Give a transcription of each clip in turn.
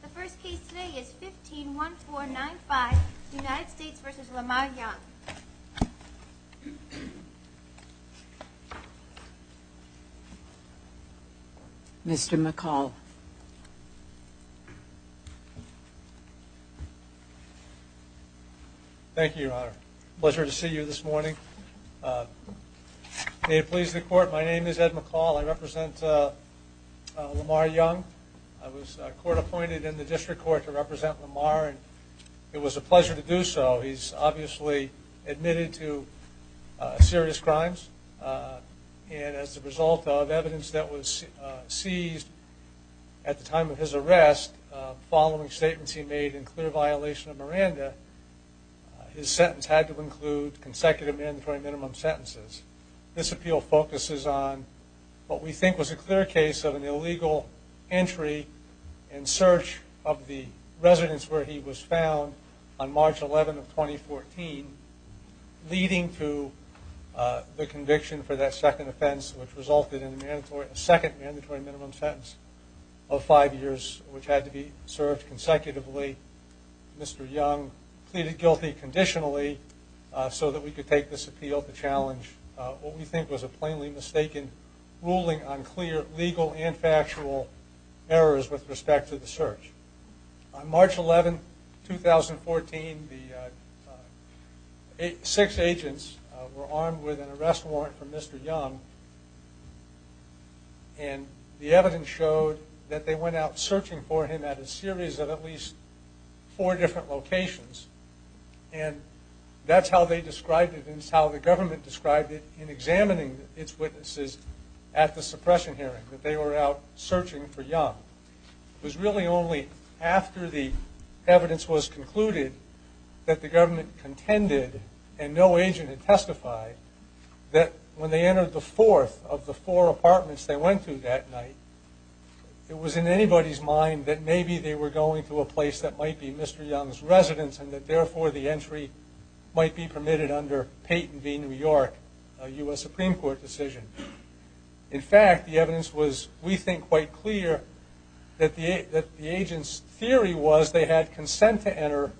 The first case today is 151495, United States v. Lamar Young. Mr. McCall. Thank you, Your Honor. Pleasure to see you this morning. May it please the Court, my name is Ed McCall. I represent Lamar Young. I was court appointed in the District Court to represent Lamar and it was a pleasure to do so. He's obviously admitted to serious crimes and as a result of evidence that was seized at the time of his arrest, following statements he made in clear violation of Miranda, his sentence had to include consecutive mandatory minimum sentences. This appeal focuses on what we think was a clear case of an illegal entry in search of the residence where he was found on March 11, 2014, leading to the conviction for that second offense, which resulted in a second mandatory minimum sentence of five years, which had to be served consecutively. Mr. Young pleaded guilty conditionally so that we could take this appeal to challenge what we think was a plainly mistaken ruling on clear legal and factual errors with respect to the search. On March 11, 2014, the six agents were armed with an arrest warrant from Mr. Young and the evidence showed that they went out searching for him at a series of at least four different locations and that's how they described it and it's how the government described it in examining its witnesses at the suppression hearing, that they were out searching for Young. It was really only after the evidence was concluded that the government contended and no agent had testified that when they entered the fourth of the four apartments they went to that night, it was in anybody's mind that maybe they were going to a place that might be Mr. Young's residence and that therefore the entry might be permitted under Peyton v. New York, a U.S. Supreme Court decision. In fact, the evidence was, we think, quite clear that the agent's theory was they had consent to enter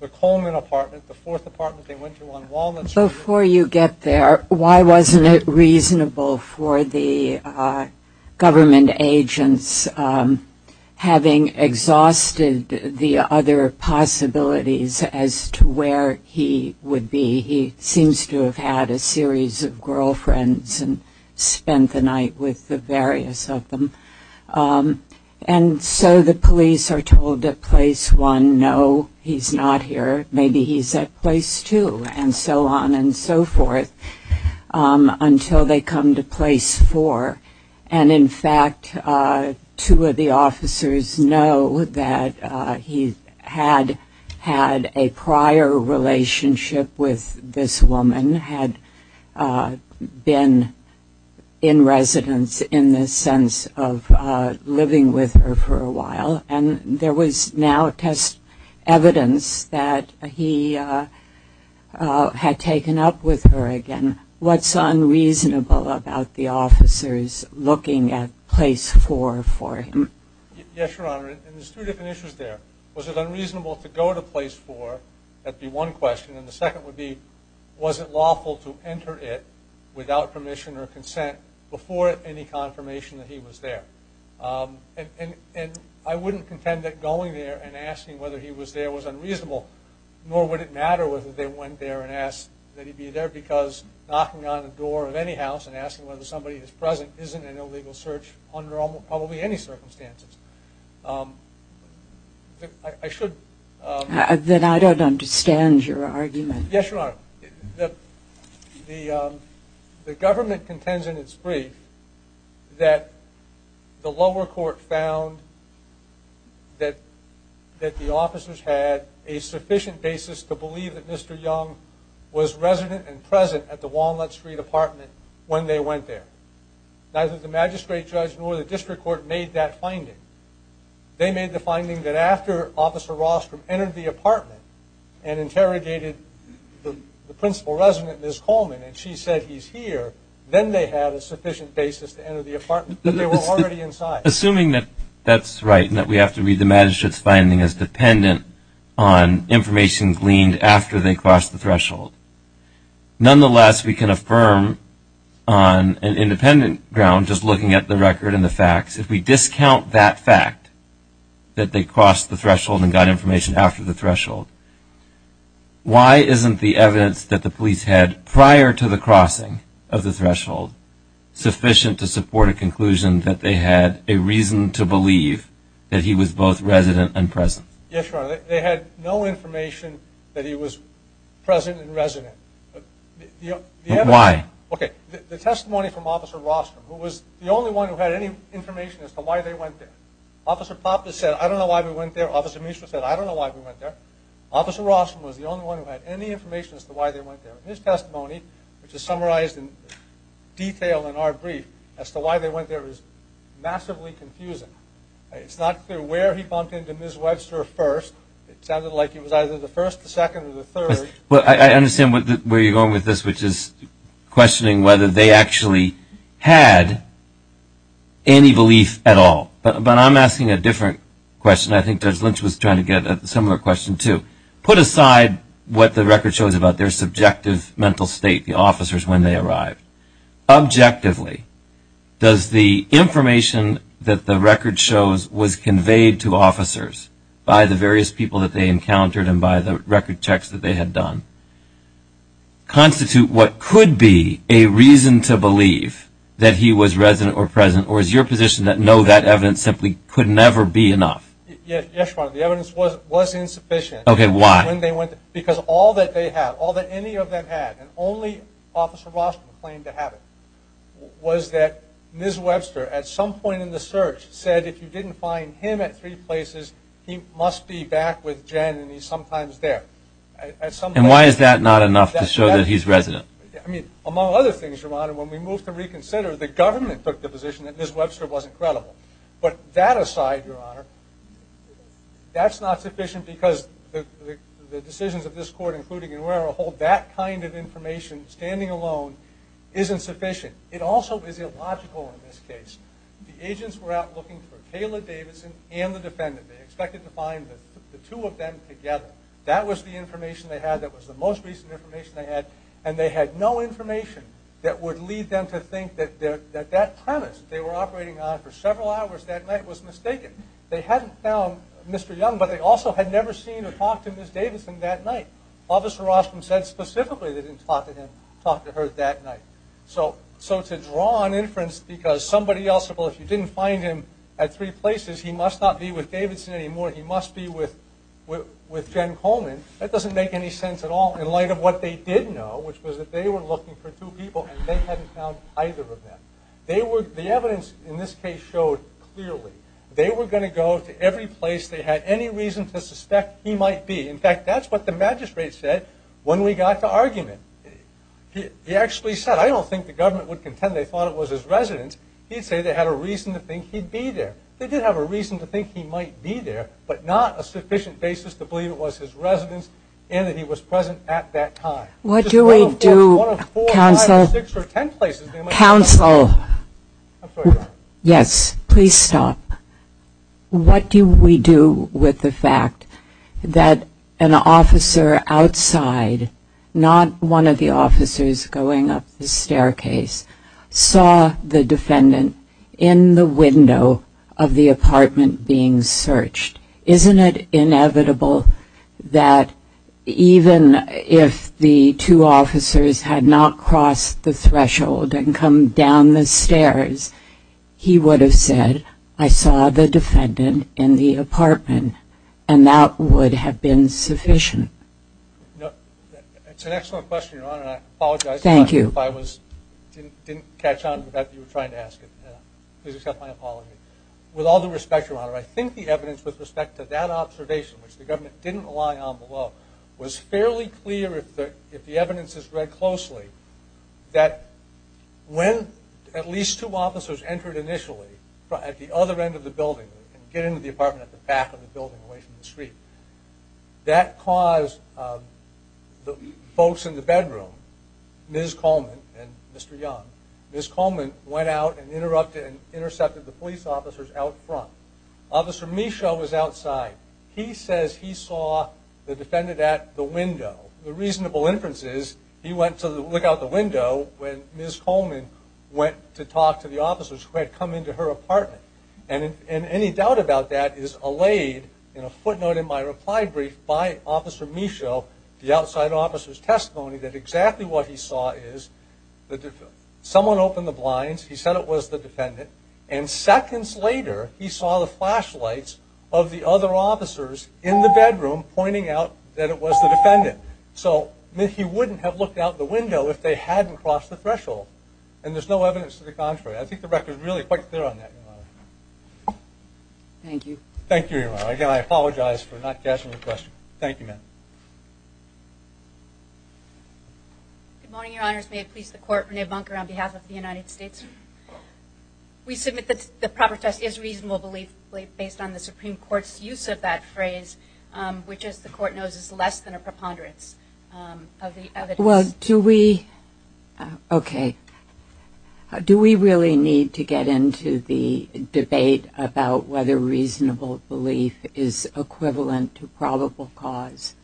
the Coleman apartment, the fourth apartment they went to on Walnut Street. Before you get there, why wasn't it reasonable for the government agents, having exhausted the other possibilities as to where he would be? He seems to have had a series of girlfriends and spent the night with the various of them and so the police are told that place one, no, he's not here. Maybe he's at place two and so on and so forth until they come to place four and in fact two of the officers know that he had had a prior relationship with this woman, had been in residence in the sense of living with her for a while and there was now test evidence that he had taken up with her again. What's unreasonable about the officers looking at place four for him? Yes, Your Honor, and there's two different issues there. Was it unreasonable to go to place four, that would be one question, and the second would be was it lawful to enter it without permission or consent before any confirmation that he was there? And I wouldn't contend that going there and asking whether he was there was unreasonable, nor would it matter whether they went there and asked that he be there because knocking on the door of any house and asking whether somebody is present isn't an illegal search under probably any circumstances. I should... Then I don't understand your argument. Yes, Your Honor, the government contends in its brief that the lower court found that the officers had a sufficient basis to believe that Mr. Young was resident and present at the Walnut Street apartment when they went there. Neither the magistrate judge nor the district court made that finding. They made the finding that after Officer Rostrom entered the apartment and interrogated the principal resident, Ms. Coleman, and she said he's here, then they had a sufficient basis to enter the apartment, but they were already inside. Assuming that that's right and that we have to read the magistrate's finding as dependent on information gleaned after they crossed the threshold. Nonetheless, we can affirm on an independent ground, just looking at the record and the facts, if we discount that fact that they crossed the threshold and got information after the threshold, why isn't the evidence that the police had prior to the crossing of the threshold sufficient to support a conclusion that they had a reason to believe that he was both resident and present? Yes, Your Honor. They had no information that he was present and resident. But why? Okay. The testimony from Officer Rostrom, who was the only one who had any information as to why they went there. Officer Poppe said, I don't know why we went there. Officer Mishra said, I don't know why we went there. Officer Rostrom was the only one who had any information as to why they went there. His testimony, which is summarized in detail in our brief, as to why they went there is massively confusing. It's not clear where he bumped into Ms. Webster first. It sounded like it was either the first, the second, or the third. I understand where you're going with this, which is questioning whether they actually had any belief at all. But I'm asking a different question. I think Judge Lynch was trying to get a similar question, too. Put aside what the record shows about their subjective mental state, the officers when they arrived. Objectively, does the information that the record shows was conveyed to officers by the various people that they encountered and by the record checks that they had done constitute what could be a reason to believe that he was resident or present, or is your position that no, that evidence simply could never be enough? Yes, Your Honor. The evidence was insufficient. Okay. Why? Because all that they had, all that any of them had, and only Officer Rostrom claimed to have it, was that Ms. Webster at some point in the search said if you didn't find him at three places, he must be back with Jen and he's sometimes there. And why is that not enough to show that he's resident? I mean, among other things, Your Honor, when we moved to reconsider, the government took the position that Ms. Webster wasn't credible. But that aside, Your Honor, that's not sufficient because the decisions of this court, including and where I'll hold that kind of information, standing alone, isn't sufficient. It also is illogical in this case. The agents were out looking for Kayla Davidson and the defendant. They expected to find the two of them together. That was the information they had that was the most recent information they had, and they had no information that would lead them to think that that premise that they were operating on for several hours that night was mistaken. They hadn't found Mr. Young, but they also had never seen or talked to Ms. Davidson that night. Officer Rostrom said specifically they didn't talk to her that night. So to draw on inference because somebody else, well, if you didn't find him at three places, he must not be with Davidson anymore, he must be with Jen Coleman, that doesn't make any sense at all in light of what they did know, which was that they were looking for two people and they hadn't found either of them. The evidence in this case showed clearly they were going to go to every place they had any reason to suspect he might be. In fact, that's what the magistrate said when we got to argument. He actually said, I don't think the government would contend they thought it was his residence. He'd say they had a reason to think he'd be there. They did have a reason to think he might be there, but not a sufficient basis to believe it was his residence and that he was present at that time. What do we do, counsel? Counsel? Yes, please stop. What do we do with the fact that an officer outside, not one of the officers going up the staircase, saw the defendant in the window of the apartment being searched? Isn't it inevitable that even if the two officers had not crossed the threshold and come down the stairs, he would have said, I saw the defendant in the apartment, and that would have been sufficient? It's an excellent question, Your Honor, and I apologize if I didn't catch on with what you were trying to ask. Please accept my apology. With all due respect, Your Honor, I think the evidence with respect to that observation, which the government didn't rely on below, was fairly clear if the evidence is read closely, that when at least two officers entered initially at the other end of the building and get into the apartment at the back of the building away from the street, that caused the folks in the bedroom, Ms. Coleman and Mr. Young, Ms. Coleman went out and interrupted and intercepted the police officers out front. Officer Michaud was outside. He says he saw the defendant at the window. The reasonable inference is he went to look out the window when Ms. Coleman went to talk to the officers who had come into her apartment, and any doubt about that is allayed in a footnote in my reply brief by Officer Michaud, the outside officer's testimony, that exactly what he saw is someone opened the blinds, he said it was the defendant, and seconds later he saw the flashlights of the other officers in the bedroom pointing out that it was the defendant. So he wouldn't have looked out the window if they hadn't crossed the threshold, and there's no evidence to the contrary. I think the record is really quite clear on that, Your Honor. Thank you. Thank you, Your Honor. Again, I apologize for not catching your question. Thank you, ma'am. Good morning, Your Honors. May it please the Court, Renee Bunker on behalf of the United States. We submit that the proper test is reasonable belief based on the Supreme Court's use of that phrase, which as the Court knows is less than a preponderance of the evidence. Well, do we really need to get into the debate about whether reasonable belief is equivalent to probable cause?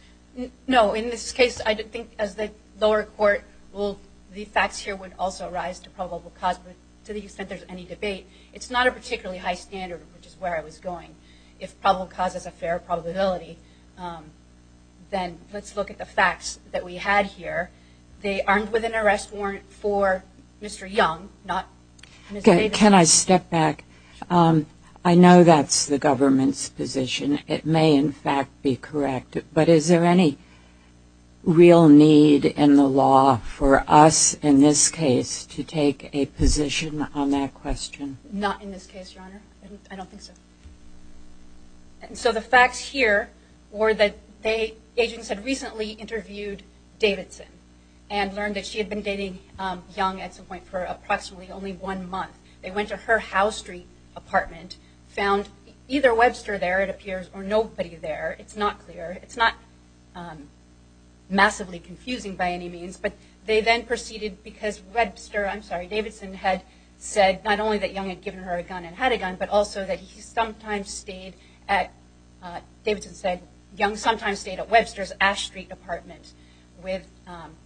No. In this case, I think as the lower court, the facts here would also rise to probable cause. But to the extent there's any debate, it's not a particularly high standard, which is where I was going. If probable cause is a fair probability, then let's look at the facts that we had here. They aren't within arrest warrant for Mr. Young, not Ms. Davis. Can I step back? I know that's the government's position. It may, in fact, be correct. But is there any real need in the law for us, in this case, to take a position on that question? Not in this case, Your Honor. I don't think so. So the facts here were that agents had recently interviewed Davidson and learned that she had been dating Young at some point for approximately only one month. They went to her Howe Street apartment, found either Webster there, it appears, or nobody there. It's not clear. It's not massively confusing by any means, but they then proceeded because Webster, I'm sorry, Davidson had said not only that Young had given her a gun and had a gun, but also that he sometimes stayed at, Davidson said, Young sometimes stayed at Webster's Ash Street apartment with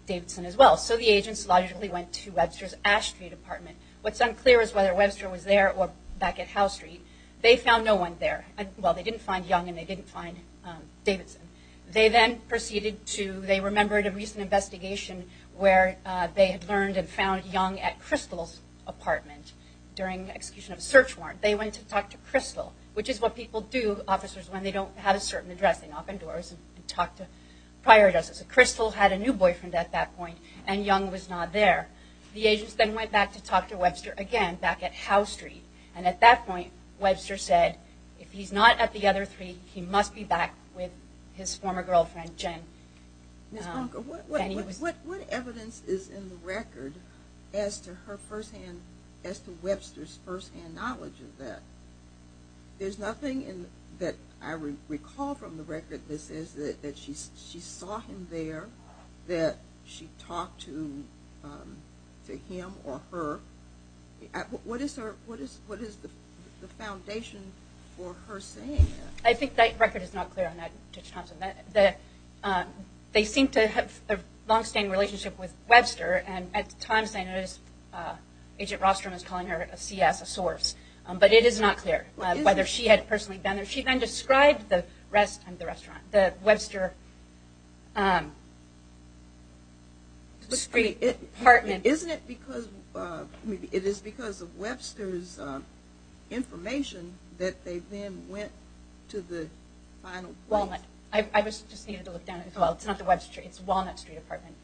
Davidson as well. So the agents logically went to Webster's Ash Street apartment. What's unclear is whether Webster was there or back at Howe Street. They found no one there. Well, they didn't find Young and they didn't find Davidson. They then proceeded to, they remembered a recent investigation where they had learned and found Young at Crystal's apartment during execution of a search warrant. They went to talk to Crystal, which is what people do, officers, when they don't have a certain address. They knock on doors and talk to prior addresses. Crystal had a new boyfriend at that point, and Young was not there. The agents then went back to talk to Webster again back at Howe Street. And at that point, Webster said, if he's not at the other three, he must be back with his former girlfriend, Jen. Ms. Bonker, what evidence is in the record as to Webster's firsthand knowledge of that? There's nothing that I recall from the record that says that she saw him there, that she talked to him or her. What is the foundation for her saying that? I think that record is not clear on that, Judge Thompson. They seem to have a longstanding relationship with Webster, and at times I notice Agent Rostrom is calling her a CS, a source. But it is not clear whether she had personally been there. She then described the Webster street apartment. Isn't it because of Webster's information that they then went to the final place? Walnut. I just needed to look that up as well. It's not the Webster, it's Walnut Street apartment.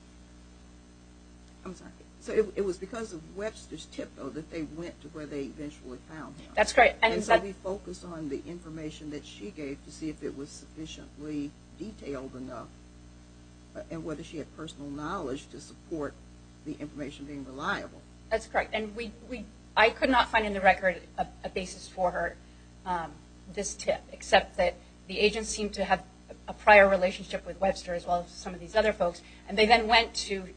I'm sorry. So it was because of Webster's tip, though, that they went to where they eventually found him. That's correct. And so we focused on the information that she gave to see if it was sufficiently detailed enough and whether she had personal knowledge to support the information being reliable. That's correct. And I could not find in the record a basis for her, this tip, except that the agents seemed to have a prior relationship with Webster as well as some of these other folks. In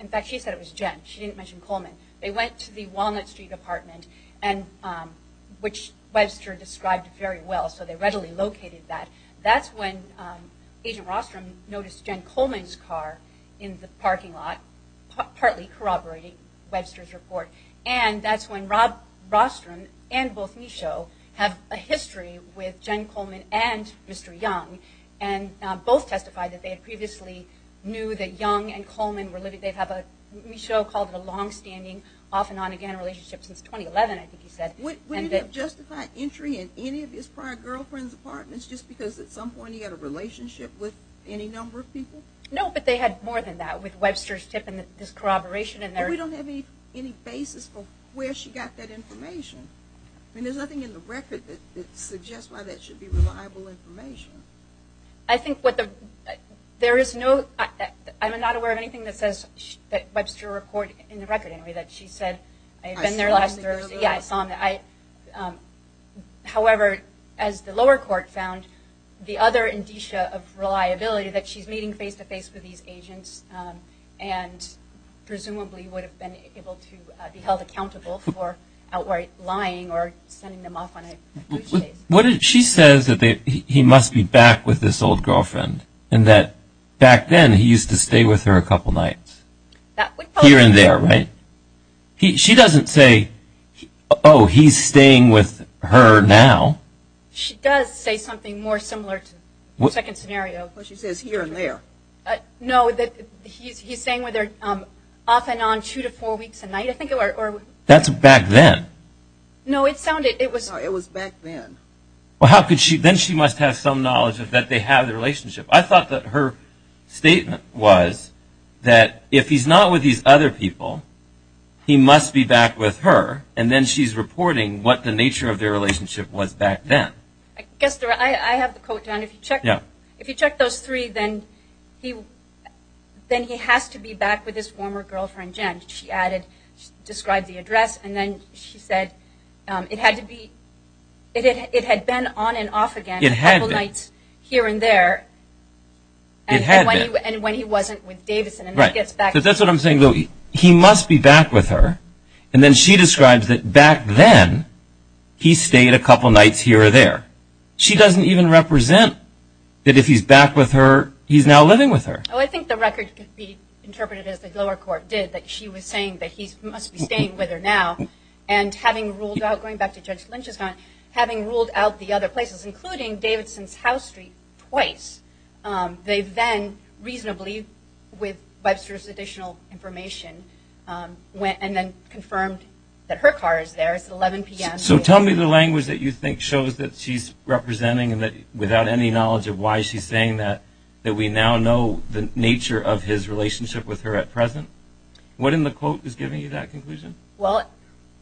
fact, she said it was Jen. She didn't mention Coleman. They went to the Walnut Street apartment, which Webster described very well, so they readily located that. That's when Agent Rostrom noticed Jen Coleman's car in the parking lot, partly corroborating Webster's report. And that's when Rob Rostrom and both Michaud have a history with Jen Coleman and Mr. Young, and both testified that they had previously knew that Young and Coleman were living. Michaud called it a longstanding off-and-on-again relationship since 2011, I think he said. Would it have justified entry in any of his prior girlfriends' apartments just because at some point he had a relationship with any number of people? No, but they had more than that with Webster's tip and this corroboration. But we don't have any basis for where she got that information. I mean, there's nothing in the record that suggests why that should be reliable information. I think what there is no, I'm not aware of anything that says Webster reported in the record, anyway, that she said, I've been there last Thursday. Yeah, I saw it. However, as the lower court found, the other indicia of reliability, that she's meeting face-to-face with these agents and presumably would have been able to be held accountable for outright lying or sending them off on a blue chase. She says that he must be back with this old girlfriend and that back then he used to stay with her a couple nights. Here and there, right? She doesn't say, oh, he's staying with her now. She does say something more similar to the second scenario. She says here and there. No, he's staying with her off and on two to four weeks a night, I think. That's back then. No, it sounded, it was back then. Then she must have some knowledge that they have the relationship. I thought that her statement was that if he's not with these other people, he must be back with her, and then she's reporting what the nature of their relationship was back then. I have the quote down. If you check those three, then he has to be back with his former girlfriend, Jen, she added. She described the address, and then she said it had to be, it had been on and off again a couple nights here and there. It had been. And when he wasn't with Davidson and he gets back. That's what I'm saying, Louie. He must be back with her, and then she describes that back then he stayed a couple nights here or there. She doesn't even represent that if he's back with her, he's now living with her. I think the record could be interpreted as the lower court did, that she was saying that he must be staying with her now. And having ruled out, going back to Judge Lynch's comment, having ruled out the other places, including Davidson's House Street twice, they then reasonably, with Webster's additional information, went and then confirmed that her car is there. It's 11 p.m. So tell me the language that you think shows that she's representing and that without any knowledge of why she's saying that, that we now know the nature of his relationship with her at present. What in the quote is giving you that conclusion? Well,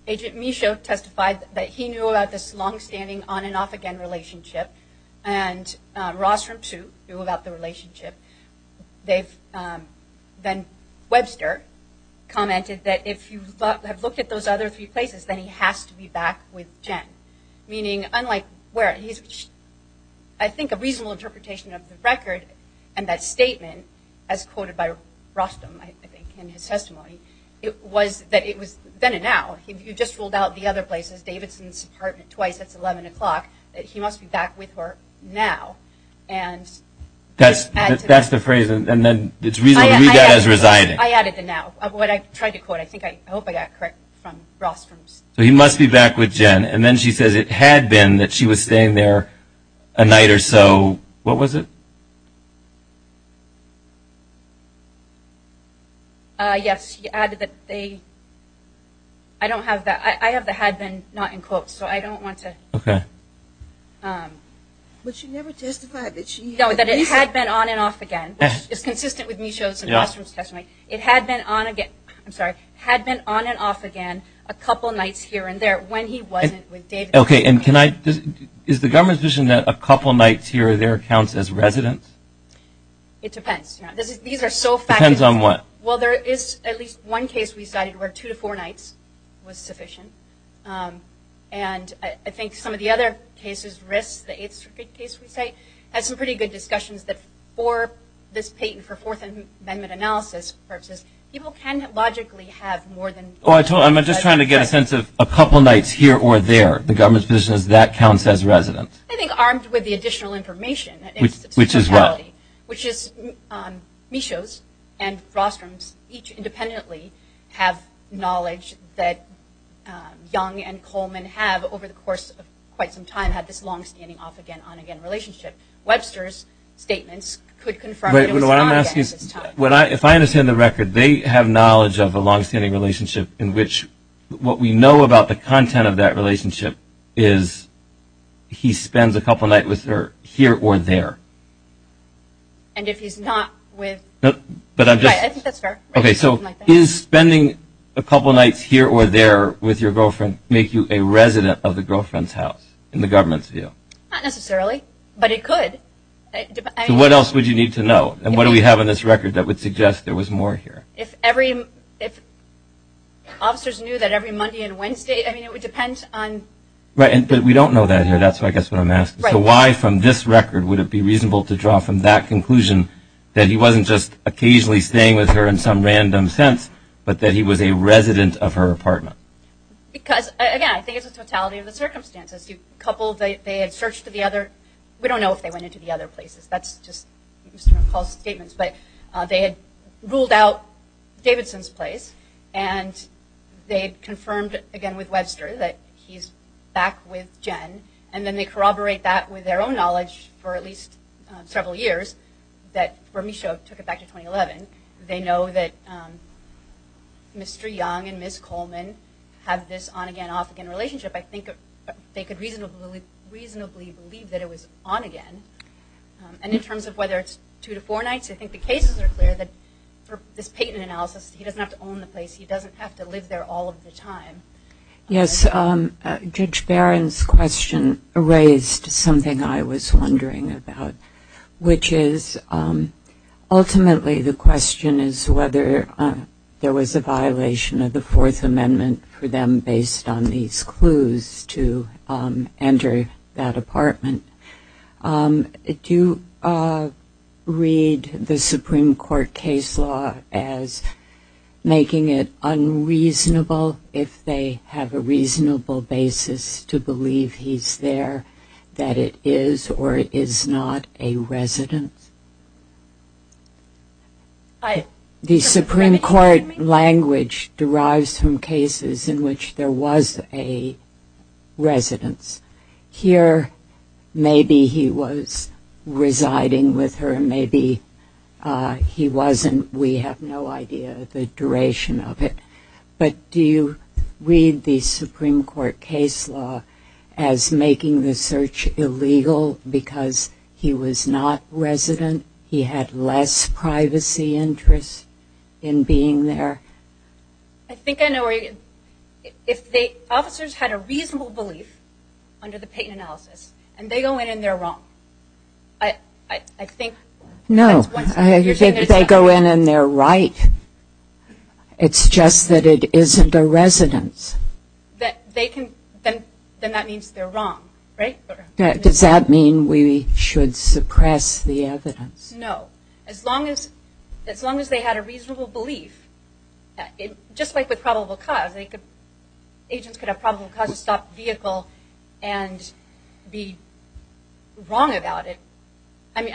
Agent Michaud testified that he knew about this longstanding on-and-off-again relationship, and Ross from two knew about the relationship. Then Webster commented that if you have looked at those other three places, then he has to be back with Jen. Meaning, unlike where he's, I think, a reasonable interpretation of the record and that statement, as quoted by Rostam, I think, in his testimony, it was that it was then and now. You just ruled out the other places, Davidson's apartment twice, it's 11 o'clock, that he must be back with her now. That's the phrase, and then it's reasonably regarded as residing. I added the now of what I tried to quote. I hope I got it correct from Rostam's. He must be back with Jen, and then she says it had been that she was staying there a night or so. What was it? Yes, he added that they, I don't have that. I have the had been, not in quotes, so I don't want to. Okay. But she never testified that she had been. No, that it had been on and off again, which is consistent with Michaud's and Rostam's testimony. It had been on again, I'm sorry, had been on and off again a couple nights here and there when he wasn't with Davidson. Okay, and can I, is the government's vision that a couple nights here or there counts as residence? It depends. These are so fact. Depends on what? Well, there is at least one case we cited where two to four nights was sufficient, and I think some of the other cases, risks, the Eighth Circuit case we cite, has some pretty good discussions that for this patent, for Fourth Amendment analysis purposes, people can logically have more than. I'm just trying to get a sense of a couple nights here or there. The government's position is that counts as residence. I think armed with the additional information. Which is what? Which is Michaud's and Rostam's each independently have knowledge that Young and Coleman have over the course of quite some time had this long standing off-again-on-again relationship. Webster's statements could confirm. If I understand the record, they have knowledge of a long-standing relationship in which what we know about the content of that relationship is he spends a couple nights here or there. And if he's not with. I think that's fair. Okay, so is spending a couple nights here or there with your girlfriend make you a girlfriend's house in the government's view? Not necessarily, but it could. So what else would you need to know? And what do we have in this record that would suggest there was more here? If officers knew that every Monday and Wednesday, I mean, it would depend on. Right, but we don't know that here. That's I guess what I'm asking. So why from this record would it be reasonable to draw from that conclusion that he wasn't just occasionally staying with her in some random sense, but that he was a resident of her apartment? Because, again, I think it's the totality of the circumstances. They had searched to the other. We don't know if they went into the other places. That's just Mr. McCall's statements. But they had ruled out Davidson's place, and they had confirmed, again, with Webster that he's back with Jen. And then they corroborate that with their own knowledge for at least several years that Bermesha took it back to 2011. They know that Mr. Young and Ms. Coleman have this on-again, off-again relationship. I think they could reasonably believe that it was on again. And in terms of whether it's two to four nights, I think the cases are clear that for this patent analysis, he doesn't have to own the place. He doesn't have to live there all of the time. Yes, Judge Barron's question raised something I was wondering about, which is ultimately the question is whether there was a violation of the Fourth Amendment for them based on these clues to enter that apartment. Do you read the Supreme Court case law as making it unreasonable, if they have a reasonable basis, to believe he's there, that it is or is not a residence? The Supreme Court language derives from cases in which there was a residence. Here, maybe he was residing with her. Maybe he wasn't. We have no idea the duration of it. But do you read the Supreme Court case law as making the search illegal because he was not resident? He had less privacy interests in being there? I think I know where you're getting at. If the officers had a reasonable belief under the patent analysis and they go in and they're wrong, I think that's one step. No, I think they go in and they're right. It's just that it isn't a residence. Then that means they're wrong, right? Does that mean we should suppress the evidence? No. As long as they had a reasonable belief, just like with probable cause, agents could have probable cause to stop the vehicle and be right about it. I'm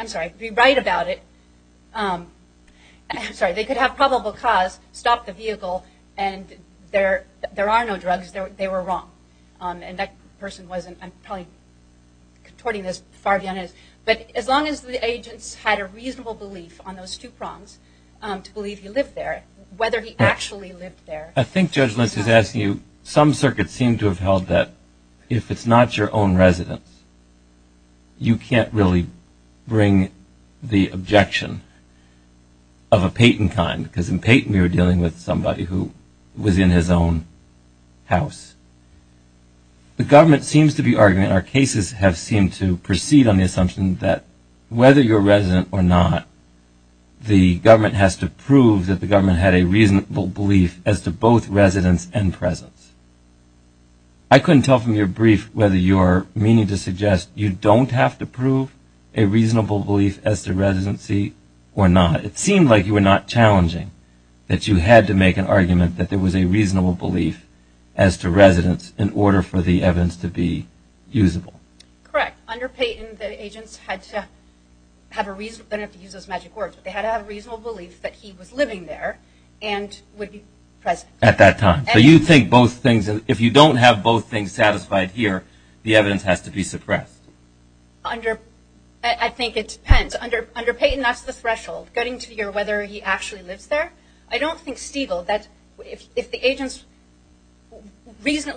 sorry, they could have probable cause stop the vehicle and there are no drugs, they were wrong. And that person wasn't. I'm probably contorting this far beyond it. But as long as the agents had a reasonable belief on those two prongs to believe he lived there, whether he actually lived there. I think Judge Lentz is asking you, some circuits seem to have held that if it's not your own residence, you can't really bring the objection of a patent kind, because in patent we were dealing with somebody who was in his own house. The government seems to be arguing, our cases have seemed to proceed on the assumption that whether you're resident or not, the government has to prove that the government had a reasonable belief as to both residence and presence. I couldn't tell from your brief whether you're meaning to suggest you don't have to prove a reasonable belief as to residency or not. It seemed like you were not challenging that you had to make an argument that there was a reasonable belief as to residence in order for the evidence to be usable. Correct. Under patent the agents had to have a reason, I don't have to use those magic words, but they had to have a reasonable belief that he was living there and would be present. At that time. So you think both things, if you don't have both things satisfied here, the evidence has to be suppressed. I think it depends. Under patent that's the threshold, getting to hear whether he actually lives there. I don't think Stiegel, if the agents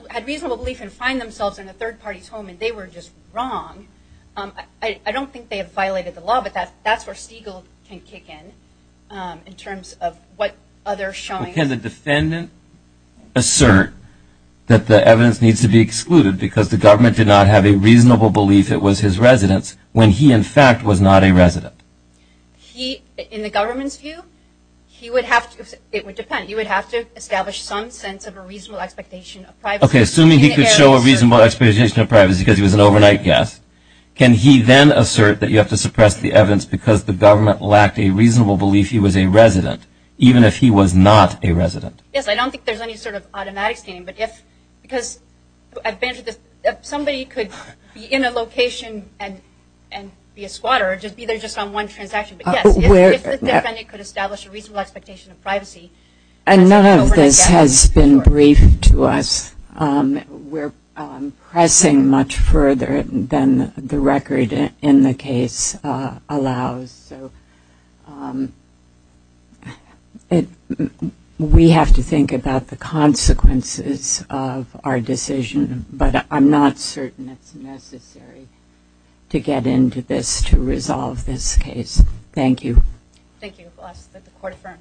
had reasonable belief and find themselves in a third party's home and they were just wrong, I don't think they have violated the law, but that's where Stiegel can kick in in terms of what other showings. Can the defendant assert that the evidence needs to be excluded because the government did not have a reasonable belief it was his residence when he in fact was not a resident? He, in the government's view, he would have to, it would depend, he would have to establish some sense of a reasonable expectation of privacy. Okay, assuming he could show a reasonable expectation of privacy because he was an overnight guest, can he then assert that you have to suppress the evidence because the government lacked a reasonable belief he was a resident, even if he was not a resident? Yes, I don't think there's any sort of automatic standing, but if, because somebody could be in a location and be a squatter or be there just on one transaction, but yes, if the defendant could establish a reasonable expectation of privacy. And none of this has been briefed to us. We're pressing much further than the record in the case allows. So we have to think about the consequences of our decision, but I'm not certain it's necessary to get into this to resolve this case. Thank you. Thank you. The court is adjourned.